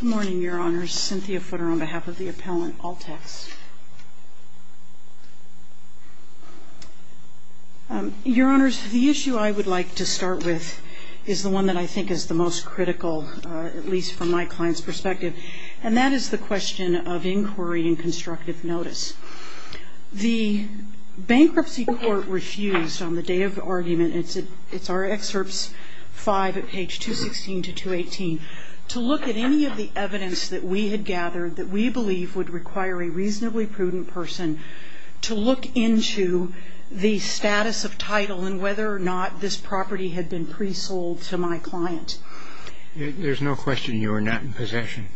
Good morning, Your Honors. Cynthia Footer on behalf of the appellant, All-Text. Your Honors, the issue I would like to start with is the one that I think is the most critical, at least from my client's perspective, and that is the question of inquiry and constructive notice. The bankruptcy court refused on the day of argument, it's our excerpts 5 at page 216 to 218, to look at any of the evidence that we had gathered that we believe would require a reasonably prudent person to look into the status of title and whether or not this property had been pre-sold to my client. There's no question you were not in possession.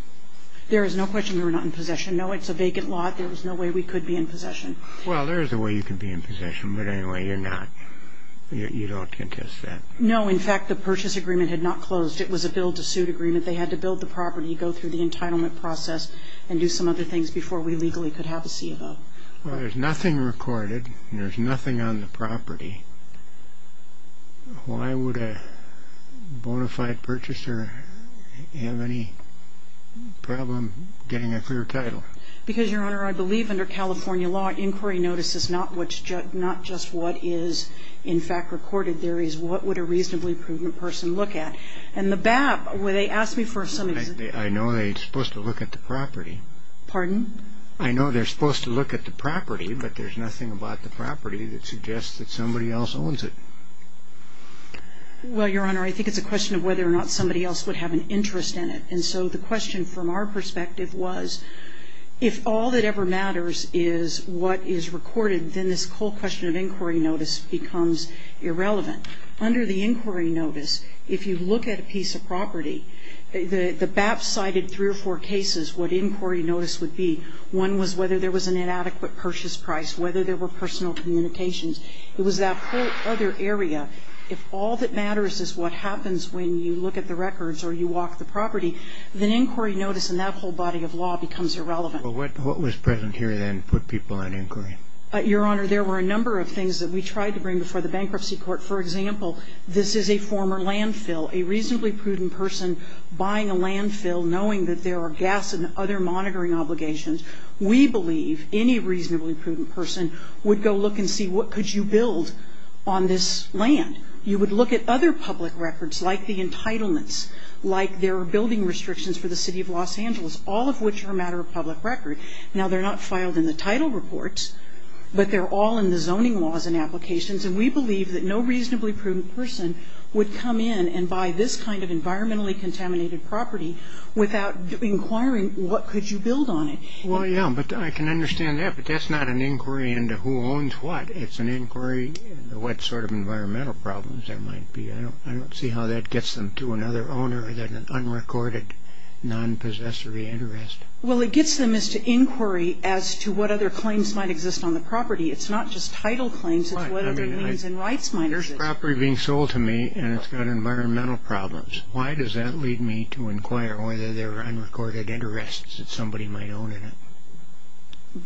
There is no question we were not in possession. No, it's a vacant lot. There was no way we could be in possession. Well, there is a way you could be in possession, but anyway, you're not. You don't contest that. No, in fact, the purchase agreement had not closed. It was a bill to suit agreement. They had to build the property, go through the entitlement process, and do some other things before we legally could have a CFO. Well, there's nothing recorded and there's nothing on the property. Why would a bona fide purchaser have any problem getting a clear title? Because, Your Honor, I believe under California law, inquiry notice is not just what is in fact recorded. There is what would a reasonably prudent person look at. And the BAP, where they asked me for some of the ---- I know they're supposed to look at the property. Pardon? I know they're supposed to look at the property, but there's nothing about the property that suggests that somebody else owns it. Well, Your Honor, I think it's a question of whether or not somebody else would have an interest in it. And so the question from our perspective was if all that ever matters is what is recorded, then this whole question of inquiry notice becomes irrelevant. Under the inquiry notice, if you look at a piece of property, the BAP cited three or four cases what inquiry notice would be. One was whether there was an inadequate purchase price, whether there were personal communications. It was that whole other area. If all that matters is what happens when you look at the records or you walk the property, then inquiry notice and that whole body of law becomes irrelevant. Well, what was present here then put people in inquiry? Your Honor, there were a number of things that we tried to bring before the bankruptcy court. For example, this is a former landfill. A reasonably prudent person buying a landfill knowing that there are gas and other monitoring obligations, we believe any reasonably prudent person would go look and see what could you build on this land. You would look at other public records like the entitlements, like there are building restrictions for the City of Los Angeles, all of which are a matter of public record. Now, they're not filed in the title reports, but they're all in the zoning laws and applications, and we believe that no reasonably prudent person would come in and buy this kind of environmentally contaminated property without inquiring what could you build on it. Well, yeah, but I can understand that, but that's not an inquiry into who owns what. It's an inquiry into what sort of environmental problems there might be. I don't see how that gets them to another owner than an unrecorded, non-possessory interest. Well, it gets them as to inquiry as to what other claims might exist on the property. It's not just title claims. It's what other means and rights might exist. There's property being sold to me, and it's got environmental problems. Why does that lead me to inquire whether there are unrecorded interests that somebody might own in it?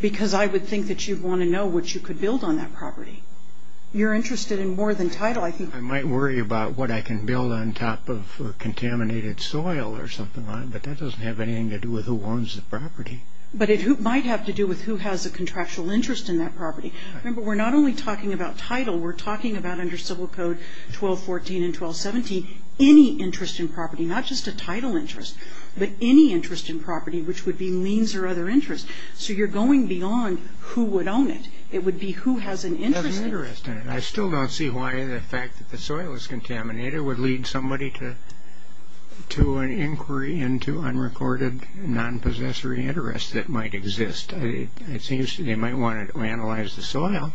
Because I would think that you'd want to know what you could build on that property. You're interested in more than title. I might worry about what I can build on top of contaminated soil or something like that, but that doesn't have anything to do with who owns the property. But it might have to do with who has a contractual interest in that property. Remember, we're not only talking about title. We're talking about under Civil Code 1214 and 1217 any interest in property, not just a title interest, but any interest in property which would be liens or other interests. So you're going beyond who would own it. It would be who has an interest in it. I still don't see why the fact that the soil is contaminated would lead somebody to an inquiry into unrecorded non-possessory interests that might exist. It seems they might want to analyze the soil.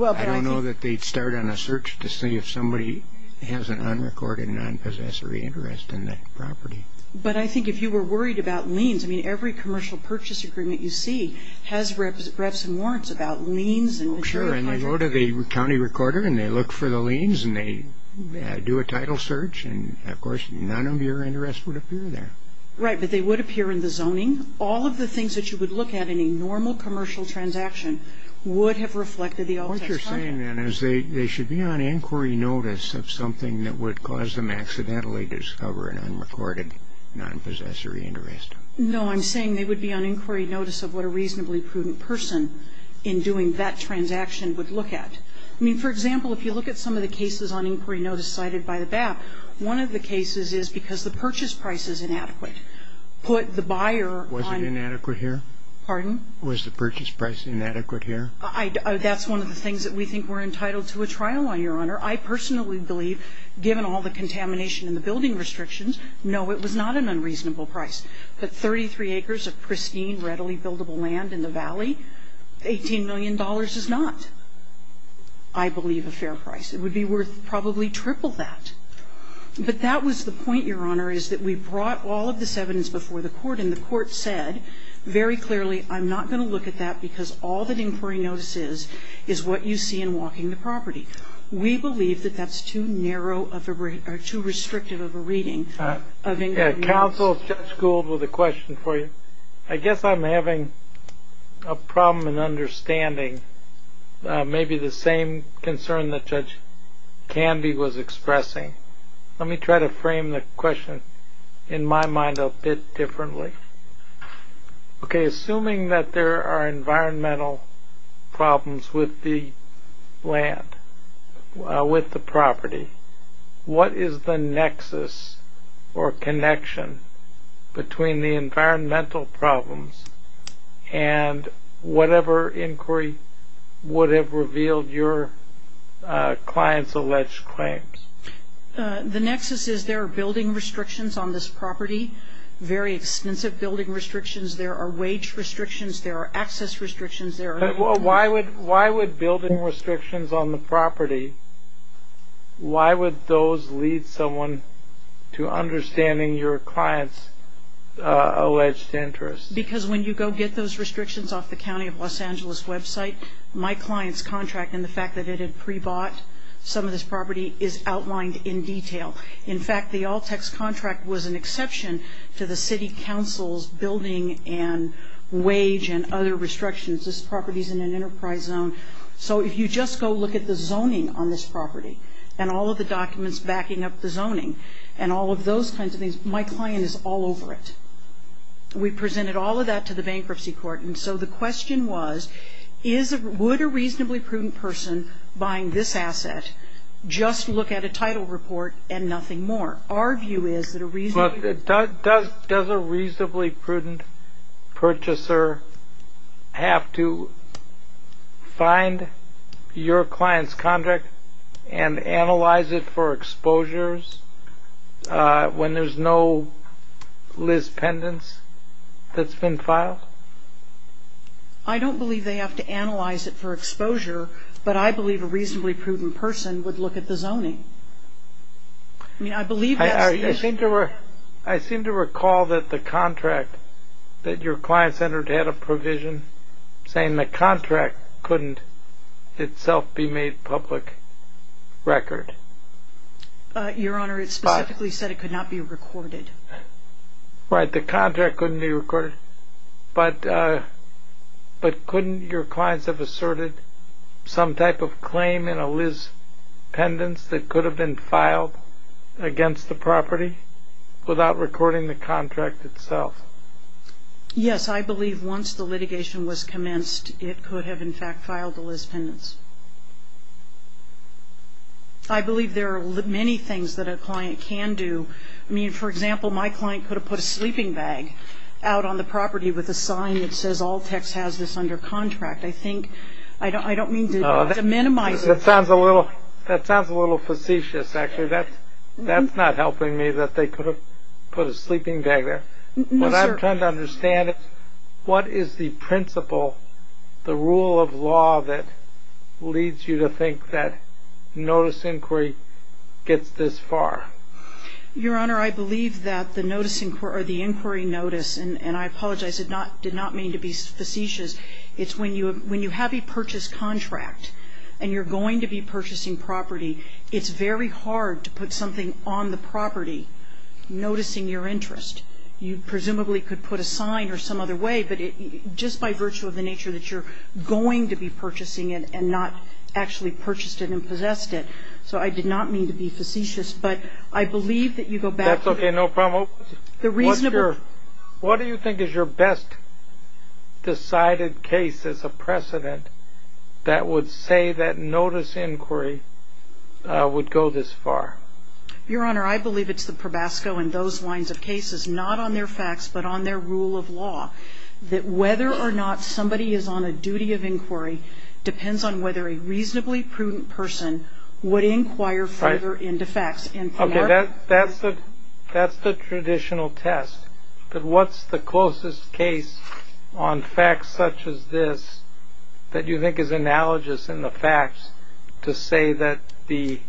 I don't know that they'd start on a search to see if somebody has an unrecorded non-possessory interest in that property. But I think if you were worried about liens, I mean, every commercial purchase agreement you see has reps and warrants about liens. Sure. And they go to the county recorder and they look for the liens and they do a title search. And, of course, none of your interest would appear there. Right. But they would appear in the zoning. All of the things that you would look at in a normal commercial transaction would have reflected the alt text content. What you're saying then is they should be on inquiry notice of something that would cause them to accidentally discover an unrecorded non-possessory interest. No. I'm saying they would be on inquiry notice of what a reasonably prudent person in doing that transaction would look at. I mean, for example, if you look at some of the cases on inquiry notice cited by the BAP, one of the cases is because the purchase price is inadequate. Put the buyer on ñ Was it inadequate here? Pardon? Was the purchase price inadequate here? That's one of the things that we think we're entitled to a trial on, Your Honor. I personally believe, given all the contamination and the building restrictions, no, it was not an unreasonable price. But 33 acres of pristine, readily buildable land in the valley, $18 million is not, I believe, a fair price. It would be worth probably triple that. But that was the point, Your Honor, is that we brought all of this evidence before the Court, and the Court said very clearly, I'm not going to look at that because all that inquiry notice is is what you see in walking the property. We believe that that's too narrow of a ñ or too restrictive of a reading. Counsel, Judge Gould, with a question for you. I guess I'm having a problem in understanding maybe the same concern that Judge Canby was expressing. Let me try to frame the question in my mind a bit differently. Okay, assuming that there are environmental problems with the land, with the property, what is the nexus or connection between the environmental problems and whatever inquiry would have revealed your client's alleged claims? The nexus is there are building restrictions on this property, very extensive building restrictions. There are wage restrictions. There are access restrictions. Why would building restrictions on the property, why would those lead someone to understanding your client's alleged interest? Because when you go get those restrictions off the County of Los Angeles website, my client's contract and the fact that it had pre-bought some of this property is outlined in detail. In fact, the Alltex contract was an exception to the City Council's building and wage and other restrictions. This property is in an enterprise zone. So if you just go look at the zoning on this property and all of the documents backing up the zoning and all of those kinds of things, my client is all over it. We presented all of that to the bankruptcy court, and so the question was would a reasonably prudent person buying this asset just look at a title report and nothing more? But does a reasonably prudent purchaser have to find your client's contract and analyze it for exposures when there's no Liz pendants that's been filed? I don't believe they have to analyze it for exposure, but I believe a reasonably prudent person would look at the zoning. I mean, I believe that's the issue. I seem to recall that the contract that your client entered had a provision saying the contract couldn't itself be made public record. Your Honor, it specifically said it could not be recorded. Right, the contract couldn't be recorded. But couldn't your clients have asserted some type of claim in a Liz pendants that could have been filed against the property without recording the contract itself? Yes, I believe once the litigation was commenced, it could have, in fact, filed the Liz pendants. I believe there are many things that a client can do. I mean, for example, my client could have put a sleeping bag out on the property with a sign that says all tax has this under contract. I think I don't mean to minimize it. That sounds a little facetious actually. That's not helping me that they could have put a sleeping bag there. No, sir. What I'm trying to understand is what is the principle, the rule of law that leads you to think that notice inquiry gets this far? Your Honor, I believe that the notice inquiry or the inquiry notice, and I apologize, did not mean to be facetious. It's when you have a purchased contract and you're going to be purchasing property, it's very hard to put something on the property noticing your interest. You presumably could put a sign or some other way, but just by virtue of the nature that you're going to be purchasing it and not actually purchased it and possessed it, so I did not mean to be facetious. But I believe that you go back to the reasonable. That's okay. No problem. What do you think is your best decided case as a precedent that would say that notice inquiry would go this far? Your Honor, I believe it's the probasco and those lines of cases, not on their facts but on their rule of law, that whether or not somebody is on a duty of inquiry depends on whether a client would inquire further into facts. Okay. That's the traditional test. But what's the closest case on facts such as this that you think is analogous in the facts to say that the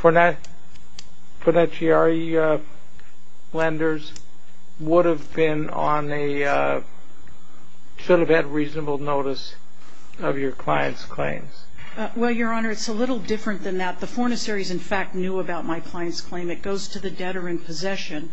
Fornaciari lenders would have been on a, should have had reasonable notice of your client's claims? Well, Your Honor, it's a little different than that. The Fornaciari's, in fact, knew about my client's claim. It goes to the debtor in possession.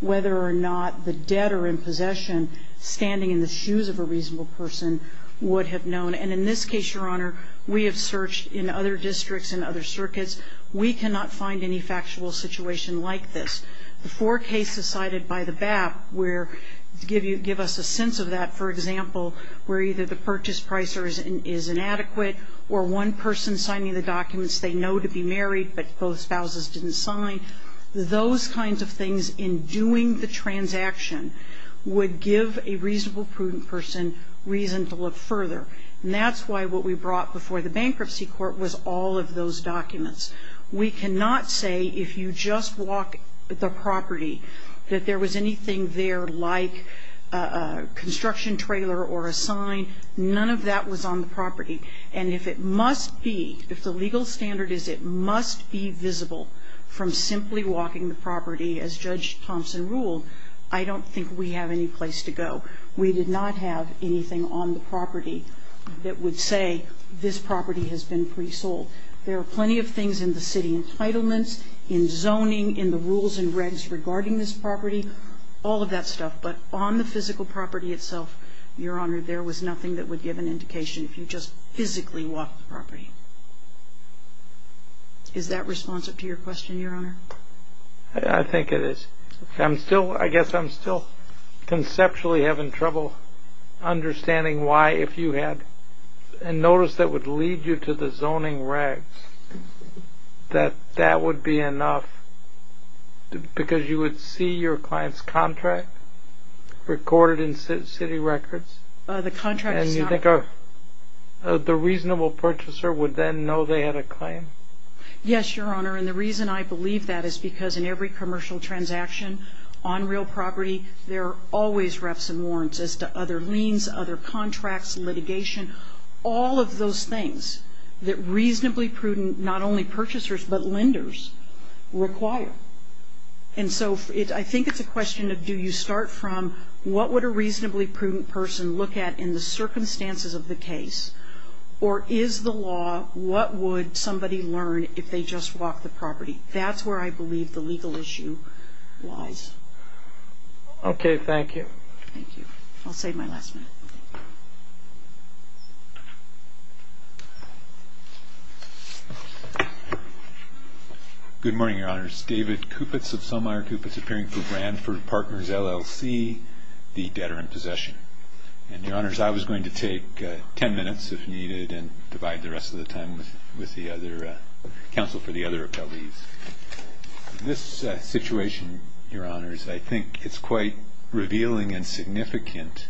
Whether or not the debtor in possession standing in the shoes of a reasonable person would have known. And in this case, Your Honor, we have searched in other districts and other circuits. We cannot find any factual situation like this. The four cases cited by the BAP give us a sense of that, for example, where either the purchase price is inadequate or one person signing the documents they know to be married but both spouses didn't sign. Those kinds of things in doing the transaction would give a reasonable, prudent person reason to look further. And that's why what we brought before the bankruptcy court was all of those documents. We cannot say if you just walk the property that there was anything there like a construction trailer or a sign. None of that was on the property. And if it must be, if the legal standard is it must be visible from simply walking the property as Judge Thompson ruled, I don't think we have any place to go. We did not have anything on the property that would say this property has been pre-sold. There are plenty of things in the city entitlements, in zoning, in the rules and regs regarding this property, all of that stuff. But on the physical property itself, Your Honor, there was nothing that would give an indication if you just physically walked the property. Is that responsive to your question, Your Honor? I think it is. I guess I'm still conceptually having trouble understanding why if you had and notice that would lead you to the zoning regs, that that would be enough because you would see your client's contract recorded in city records? The contract is not. And you think the reasonable purchaser would then know they had a claim? Yes, Your Honor. And the reason I believe that is because in every commercial transaction on real property, there are always refs and warrants as to other liens, other contracts, litigation, all of those things that reasonably prudent not only purchasers but lenders require. And so I think it's a question of do you start from what would a reasonably prudent person look at in the circumstances of the case, or is the law what would somebody learn if they just walked the property? That's where I believe the legal issue lies. Okay. Thank you. Thank you. I'll save my last minute. Good morning, Your Honors. David Kupitz of Selmire Kupitz, appearing for Branford Partners, LLC, the debtor in possession. And, Your Honors, I was going to take 10 minutes if needed and divide the rest of the time with the other counsel for the other appellees. This situation, Your Honors, I think it's quite revealing and significant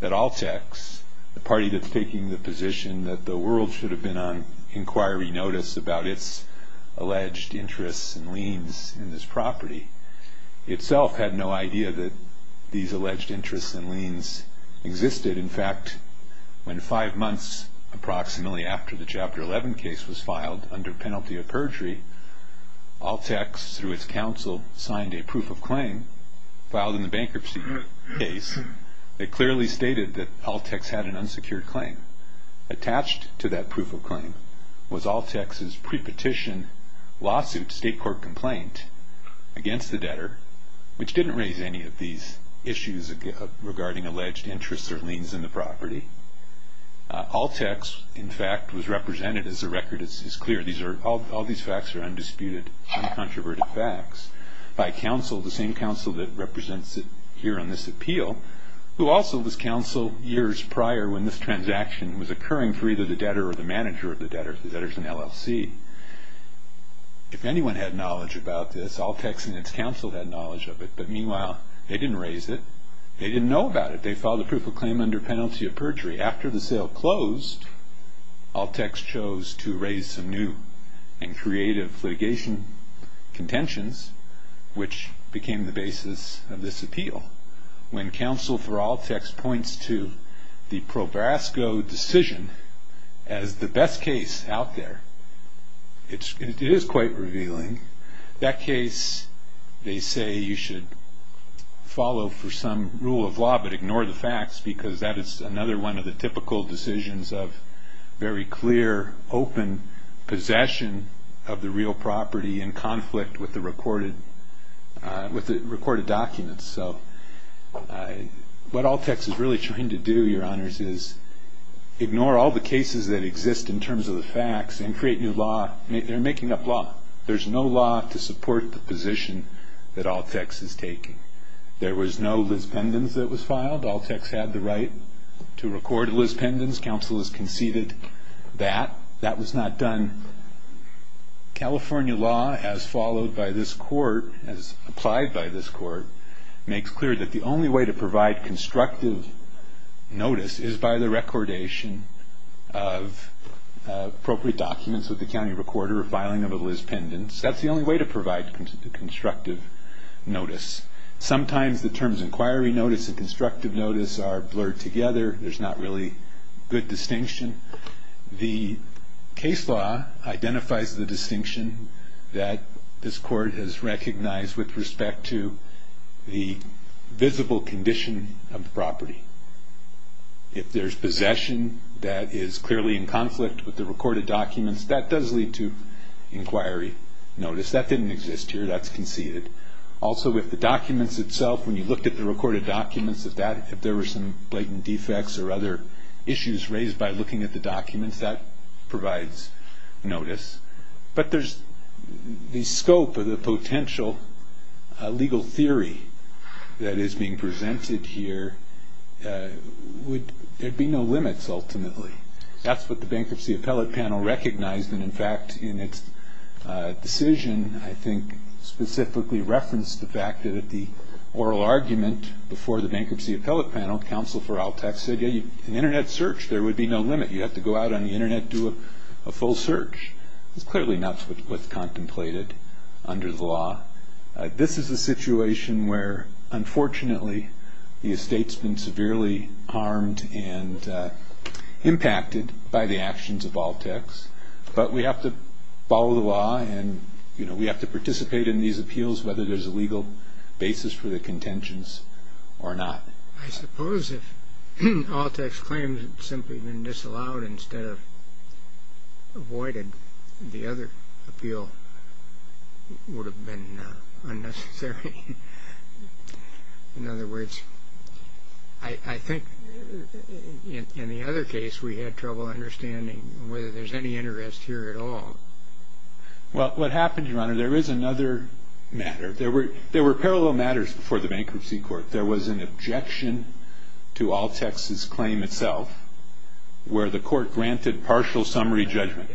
that Altex, the party that's taking the position that the world should have been on inquiry notice about its alleged interests and liens in this property, itself had no idea that these alleged interests and liens existed. In fact, when five months approximately after the Chapter 11 case was filed under penalty of perjury, Altex, through its counsel, signed a proof of claim filed in the bankruptcy case that clearly stated that Altex had an unsecured claim. Attached to that proof of claim was Altex's pre-petition lawsuit state court complaint against the debtor, which didn't raise any of these issues regarding alleged interests or liens in the property. Altex, in fact, was represented, as the record is clear, all these facts are undisputed, uncontroverted facts, by counsel, the same counsel that represents it here on this appeal, who also was counsel years prior when this transaction was occurring for either the debtor or the manager of the debtor. The debtor's an LLC. If anyone had knowledge about this, Altex and its counsel had knowledge of it. But meanwhile, they didn't raise it. They didn't know about it. They filed a proof of claim under penalty of perjury. After the sale closed, Altex chose to raise some new and creative litigation contentions, which became the basis of this appeal. When counsel for Altex points to the ProBrasco decision as the best case out there, it is quite revealing. That case, they say, you should follow for some rule of law, but ignore the facts because that is another one of the typical decisions of very clear, open possession of the real property in conflict with the recorded documents. So what Altex is really trying to do, Your Honors, is ignore all the cases that exist in terms of the facts and create new law. They're making up law. There's no law to support the position that Altex is taking. There was no Liz Pendens that was filed. Altex had the right to record Liz Pendens. Counsel has conceded that. That was not done. California law, as followed by this court, as applied by this court, makes clear that the only way to provide constructive notice is by the recordation of appropriate documents with the county recorder filing of a Liz Pendens. That's the only way to provide constructive notice. Sometimes the terms inquiry notice and constructive notice are blurred together. There's not really good distinction. The case law identifies the distinction that this court has recognized with respect to the visible condition of the property. If there's possession that is clearly in conflict with the recorded documents, that does lead to inquiry notice. That didn't exist here. That's conceded. Also with the documents itself, when you looked at the recorded documents, if there were some blatant defects or other issues raised by looking at the documents, that provides notice. But the scope of the potential legal theory that is being presented here, there'd be no limits ultimately. That's what the Bankruptcy Appellate Panel recognized. In fact, in its decision, I think, specifically referenced the fact that at the oral argument before the Bankruptcy Appellate Panel, counsel for ALTAC said, yeah, an Internet search, there would be no limit. You'd have to go out on the Internet and do a full search. That's clearly not what's contemplated under the law. This is a situation where, unfortunately, the estate's been severely harmed and impacted by the actions of ALTAC. But we have to follow the law, and we have to participate in these appeals, whether there's a legal basis for the contentions or not. I suppose if ALTAC's claims had simply been disallowed instead of avoided, the other appeal would have been unnecessary. In other words, I think in the other case, we had trouble understanding whether there's any interest here at all. Well, what happened, Your Honor, there is another matter. There were parallel matters before the Bankruptcy Court. There was an objection to ALTAC's claim itself where the court granted partial summary judgment.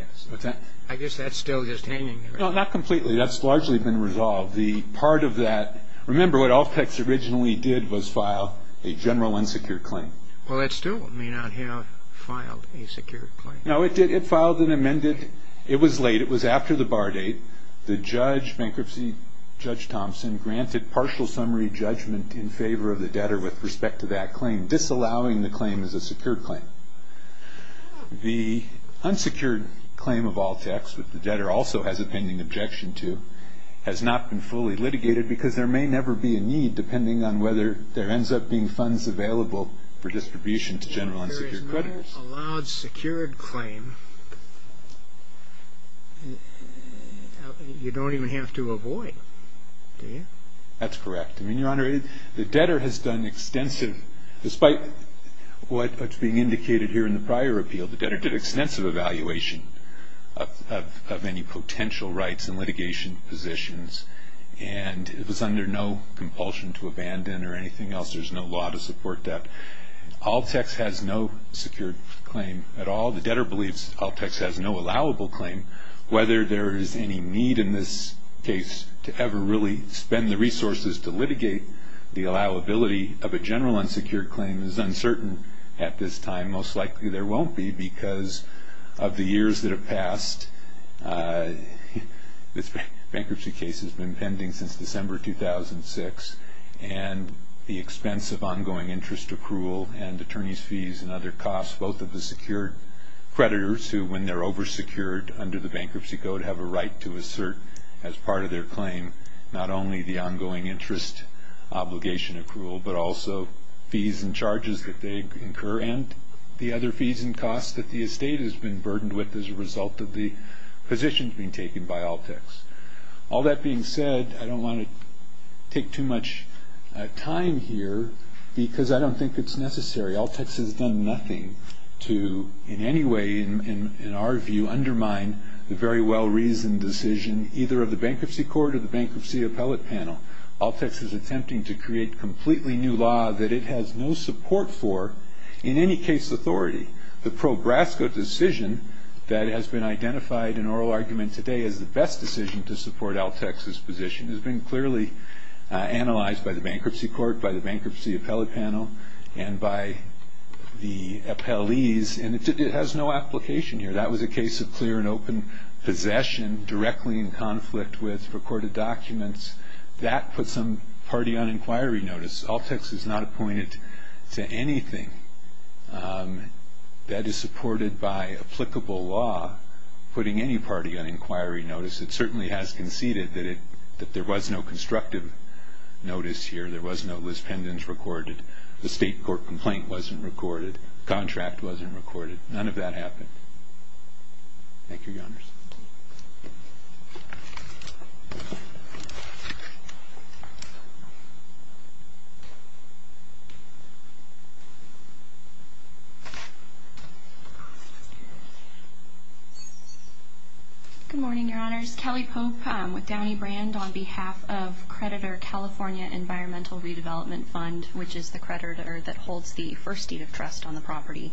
I guess that's still just hanging there. No, not completely. That's largely been resolved. Remember, what ALTAC originally did was file a general unsecured claim. Well, it still may not have filed a secured claim. No, it did. It filed an amended. It was late. It was after the bar date. The bankruptcy judge, Judge Thompson, granted partial summary judgment in favor of the debtor with respect to that claim, disallowing the claim as a secured claim. The unsecured claim of ALTAC, which the debtor also has a pending objection to, has not been fully litigated because there may never be a need, depending on whether there ends up being funds available for distribution to general unsecured creditors. Well, if there is not a loud secured claim, you don't even have to avoid, do you? That's correct. I mean, Your Honor, the debtor has done extensive, despite what's being indicated here in the prior appeal, the debtor did extensive evaluation of any potential rights and litigation positions, and it was under no compulsion to abandon or anything else. There's no law to support that. ALTAC has no secured claim at all. The debtor believes ALTAC has no allowable claim. Whether there is any need in this case to ever really spend the resources to litigate the allowability of a general unsecured claim is uncertain at this time. And most likely there won't be because of the years that have passed. This bankruptcy case has been pending since December 2006, and the expense of ongoing interest accrual and attorney's fees and other costs, both of the secured creditors who, when they're oversecured under the bankruptcy code, have a right to assert as part of their claim not only the ongoing interest obligation accrual, but also fees and charges that they incur, and the other fees and costs that the estate has been burdened with as a result of the positions being taken by ALTAC. All that being said, I don't want to take too much time here because I don't think it's necessary. ALTAC has done nothing to in any way, in our view, undermine the very well-reasoned decision either of the bankruptcy court or the bankruptcy appellate panel. ALTAC is attempting to create a completely new law that it has no support for in any case authority. The Prograsco decision that has been identified in oral argument today as the best decision to support ALTAC's position has been clearly analyzed by the bankruptcy court, by the bankruptcy appellate panel, and by the appellees, and it has no application here. That was a case of clear and open possession directly in conflict with recorded documents. That puts some party on inquiry notice. ALTAC is not appointed to anything that is supported by applicable law putting any party on inquiry notice. It certainly has conceded that there was no constructive notice here. There was no lispendence recorded. The state court complaint wasn't recorded. The contract wasn't recorded. None of that happened. Thank you, Your Honors. Good morning, Your Honors. Kelly Pope with Downey Brand on behalf of creditor California Environmental Redevelopment Fund, which is the creditor that holds the first deed of trust on the property.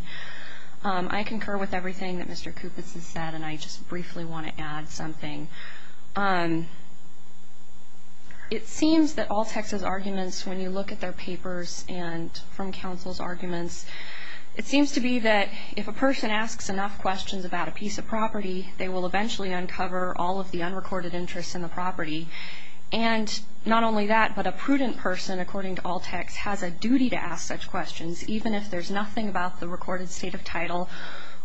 I concur with everything that Mr. Kupits has said, and I just briefly want to add something. It seems that ALTAC's arguments, when you look at their papers and from counsel's arguments, it seems to be that if a person asks enough questions about a piece of property, they will eventually uncover all of the unrecorded interests in the property. And not only that, but a prudent person, according to ALTAC, has a duty to ask such questions, even if there's nothing about the recorded state of title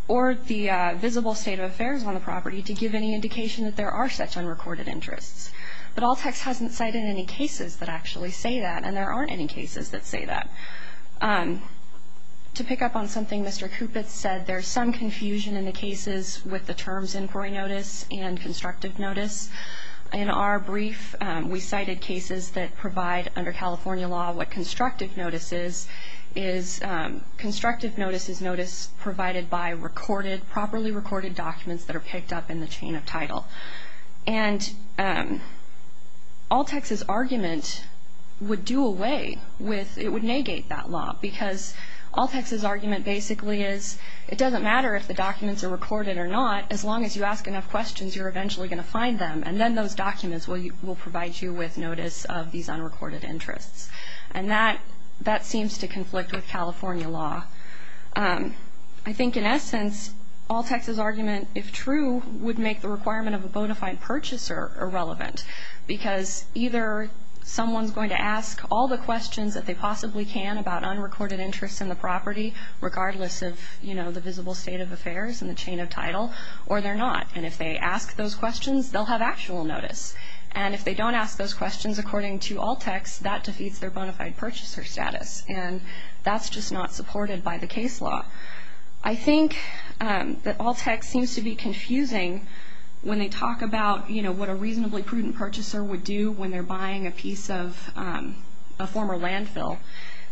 or the visible state of affairs on the property, to give any indication that there are such unrecorded interests. But ALTAC hasn't cited any cases that actually say that, and there aren't any cases that say that. To pick up on something Mr. Kupits said, there's some confusion in the cases with the terms inquiry notice and constructive notice. In our brief, we cited cases that provide under California law what constructive notice is. Constructive notice is notice provided by properly recorded documents that are picked up in the chain of title. And ALTAC's argument would do away with, it would negate that law, because ALTAC's argument basically is it doesn't matter if the documents are recorded or not, as long as you ask enough questions, you're eventually going to find them, and then those documents will provide you with notice of these unrecorded interests. And that seems to conflict with California law. I think in essence, ALTAC's argument, if true, would make the requirement of a bona fide purchaser irrelevant, because either someone's going to ask all the questions that they possibly can about unrecorded interests in the property, regardless of, you know, the visible state of affairs and the chain of title, or they're not. And if they ask those questions, they'll have actual notice. And if they don't ask those questions according to ALTAC's, that defeats their bona fide purchaser status, and that's just not supported by the case law. I think that ALTAC seems to be confusing when they talk about, you know, what a reasonably prudent purchaser would do when they're buying a piece of a former landfill.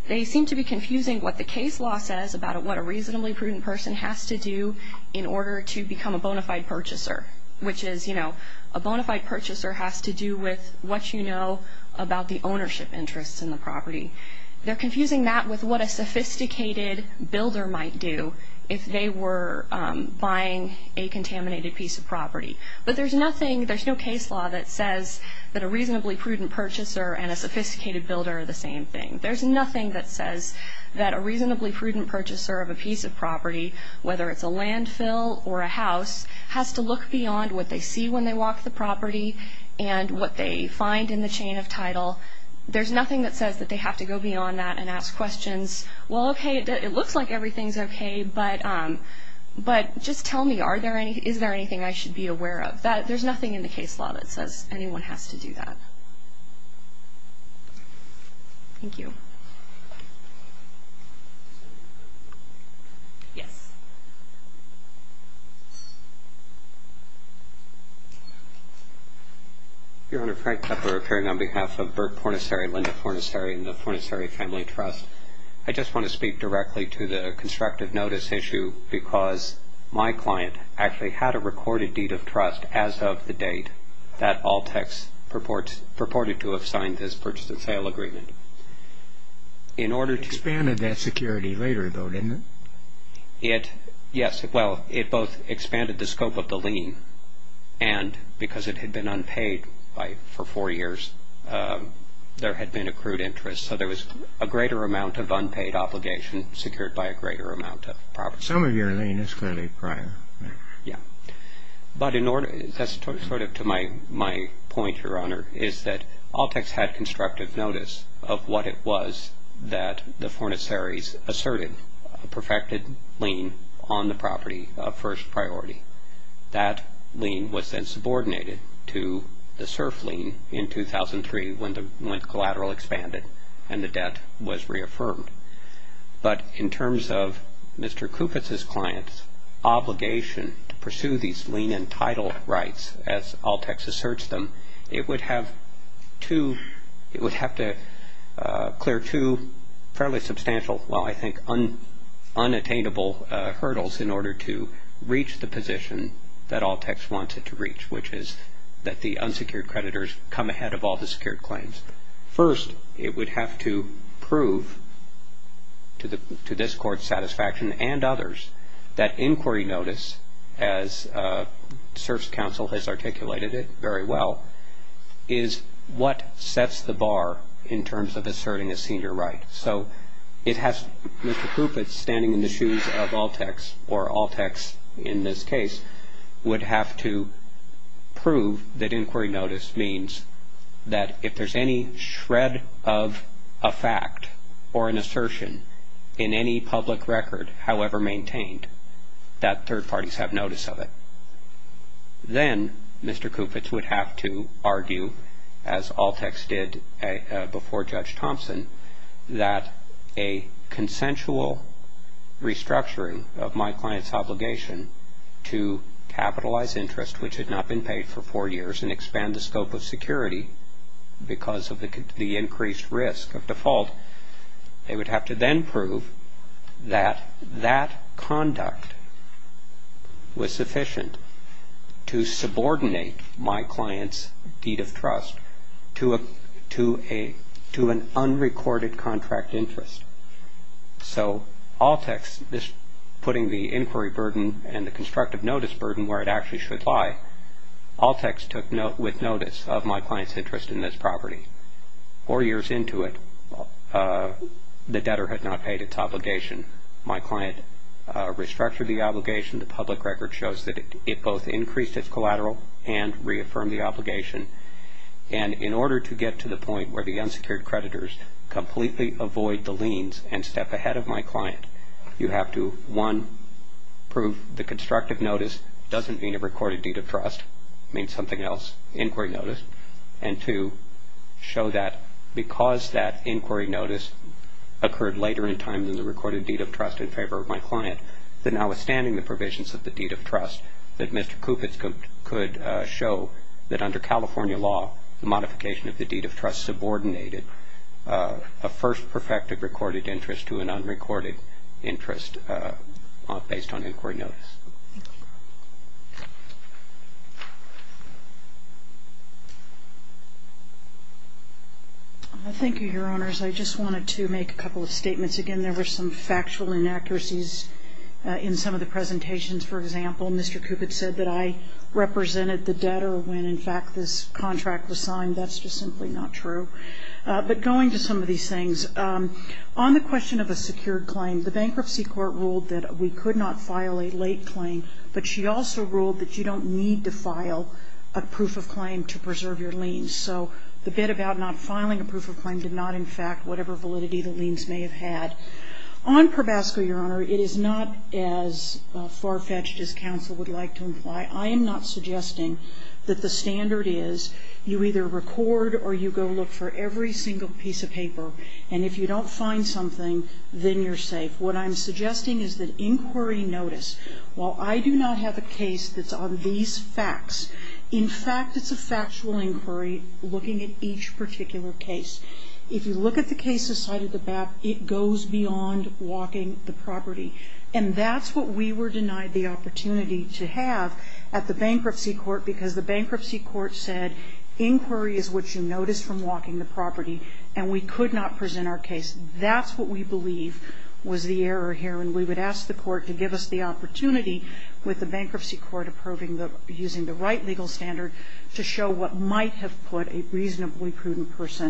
They seem to be confusing what the case law says about what a reasonably prudent person has to do in order to become a bona fide purchaser, which is, you know, a bona fide purchaser has to do with what you know about the ownership interests in the property. They're confusing that with what a sophisticated builder might do if they were buying a contaminated piece of property. But there's nothing, there's no case law that says that a reasonably prudent purchaser and a sophisticated builder are the same thing. There's nothing that says that a reasonably prudent purchaser of a piece of property, whether it's a landfill or a house, has to look beyond what they see when they walk the property and what they find in the chain of title. There's nothing that says that they have to go beyond that and ask questions. Well, okay, it looks like everything's okay, but just tell me, is there anything I should be aware of? There's nothing in the case law that says anyone has to do that. Thank you. Yes. Your Honor, Frank Kepler appearing on behalf of Burke Pornisseri, Linda Pornisseri, and the Pornisseri Family Trust. I just want to speak directly to the constructive notice issue because my client actually had a recorded deed of trust as of the date that Altex purported to have signed this purchase and sale agreement. It expanded that security later, though, didn't it? Yes, well, it both expanded the scope of the lien, and because it had been unpaid for four years, there had been accrued interest. So there was a greater amount of unpaid obligation secured by a greater amount of property. Some of your lien is clearly prior. Yes. But that's sort of to my point, Your Honor, is that Altex had constructive notice of what it was that the Pornisseries asserted, a perfected lien on the property of first priority. That lien was then subordinated to the SURF lien in 2003 when the collateral expanded and the debt was reaffirmed. But in terms of Mr. Kufitz's client's obligation to pursue these lien and title rights, as Altex asserts them, it would have to clear two fairly substantial, well, I think unattainable hurdles in order to reach the position that Altex wants it to reach, which is that the unsecured creditors come ahead of all the secured claims. First, it would have to prove to this Court's satisfaction and others that inquiry notice, as SURF's counsel has articulated it very well, is what sets the bar in terms of asserting a senior right. So it has Mr. Kufitz standing in the shoes of Altex, or Altex in this case, would have to prove that inquiry notice means that if there's any shred of a fact or an assertion in any public record, however maintained, that third parties have notice of it. Then Mr. Kufitz would have to argue, as Altex did before Judge Thompson, that a consensual restructuring of my client's obligation to capitalize interest, which had not been paid for four years, and expand the scope of security because of the increased risk of default, they would have to then prove that that conduct was sufficient to subordinate my client's deed of trust to an unrecorded contract interest. So Altex, putting the inquiry burden and the constructive notice burden where it actually should lie, Altex took note with notice of my client's interest in this property. Four years into it, the debtor had not paid its obligation. My client restructured the obligation. The public record shows that it both increased its collateral and reaffirmed the obligation. And in order to get to the point where the unsecured creditors completely avoid the liens and step ahead of my client, you have to, one, prove the constructive notice doesn't mean a recorded deed of trust, it means something else, inquiry notice, and two, show that because that inquiry notice occurred later in time than the recorded deed of trust in favor of my client, that now withstanding the provisions of the deed of trust, that Mr. Kufitz could show that under California law, the modification of the deed of trust subordinated a first perfected recorded interest to an unrecorded interest based on inquiry notice. Thank you. Thank you, Your Honors. I just wanted to make a couple of statements. Again, there were some factual inaccuracies in some of the presentations. For example, Mr. Kufitz said that I represented the debtor when, in fact, this contract was signed. That's just simply not true. But going to some of these things, on the question of a secured claim, the bankruptcy court ruled that we could not file a late claim, but she also ruled that you don't need to file a proof of claim to preserve your liens. So the bid about not filing a proof of claim did not, in fact, whatever validity the liens may have had. On ProBasco, Your Honor, it is not as far-fetched as counsel would like to imply. I am not suggesting that the standard is you either record or you go look for every single piece of paper, and if you don't find something, then you're safe. What I'm suggesting is that inquiry notice, while I do not have a case that's on these facts, in fact, it's a factual inquiry looking at each particular case. If you look at the cases cited at the back, it goes beyond walking the property. And that's what we were denied the opportunity to have at the bankruptcy court because the bankruptcy court said inquiry is what you notice from walking the property, and we could not present our case. That's what we believe was the error here, and we would ask the court to give us the opportunity with the bankruptcy court approving the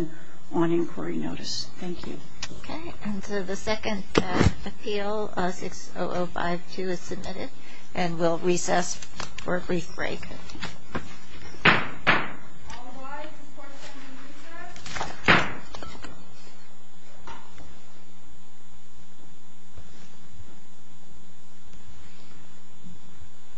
– on inquiry notice. Thank you. Okay. And so the second appeal, 60052, is submitted, and we'll recess for a brief break.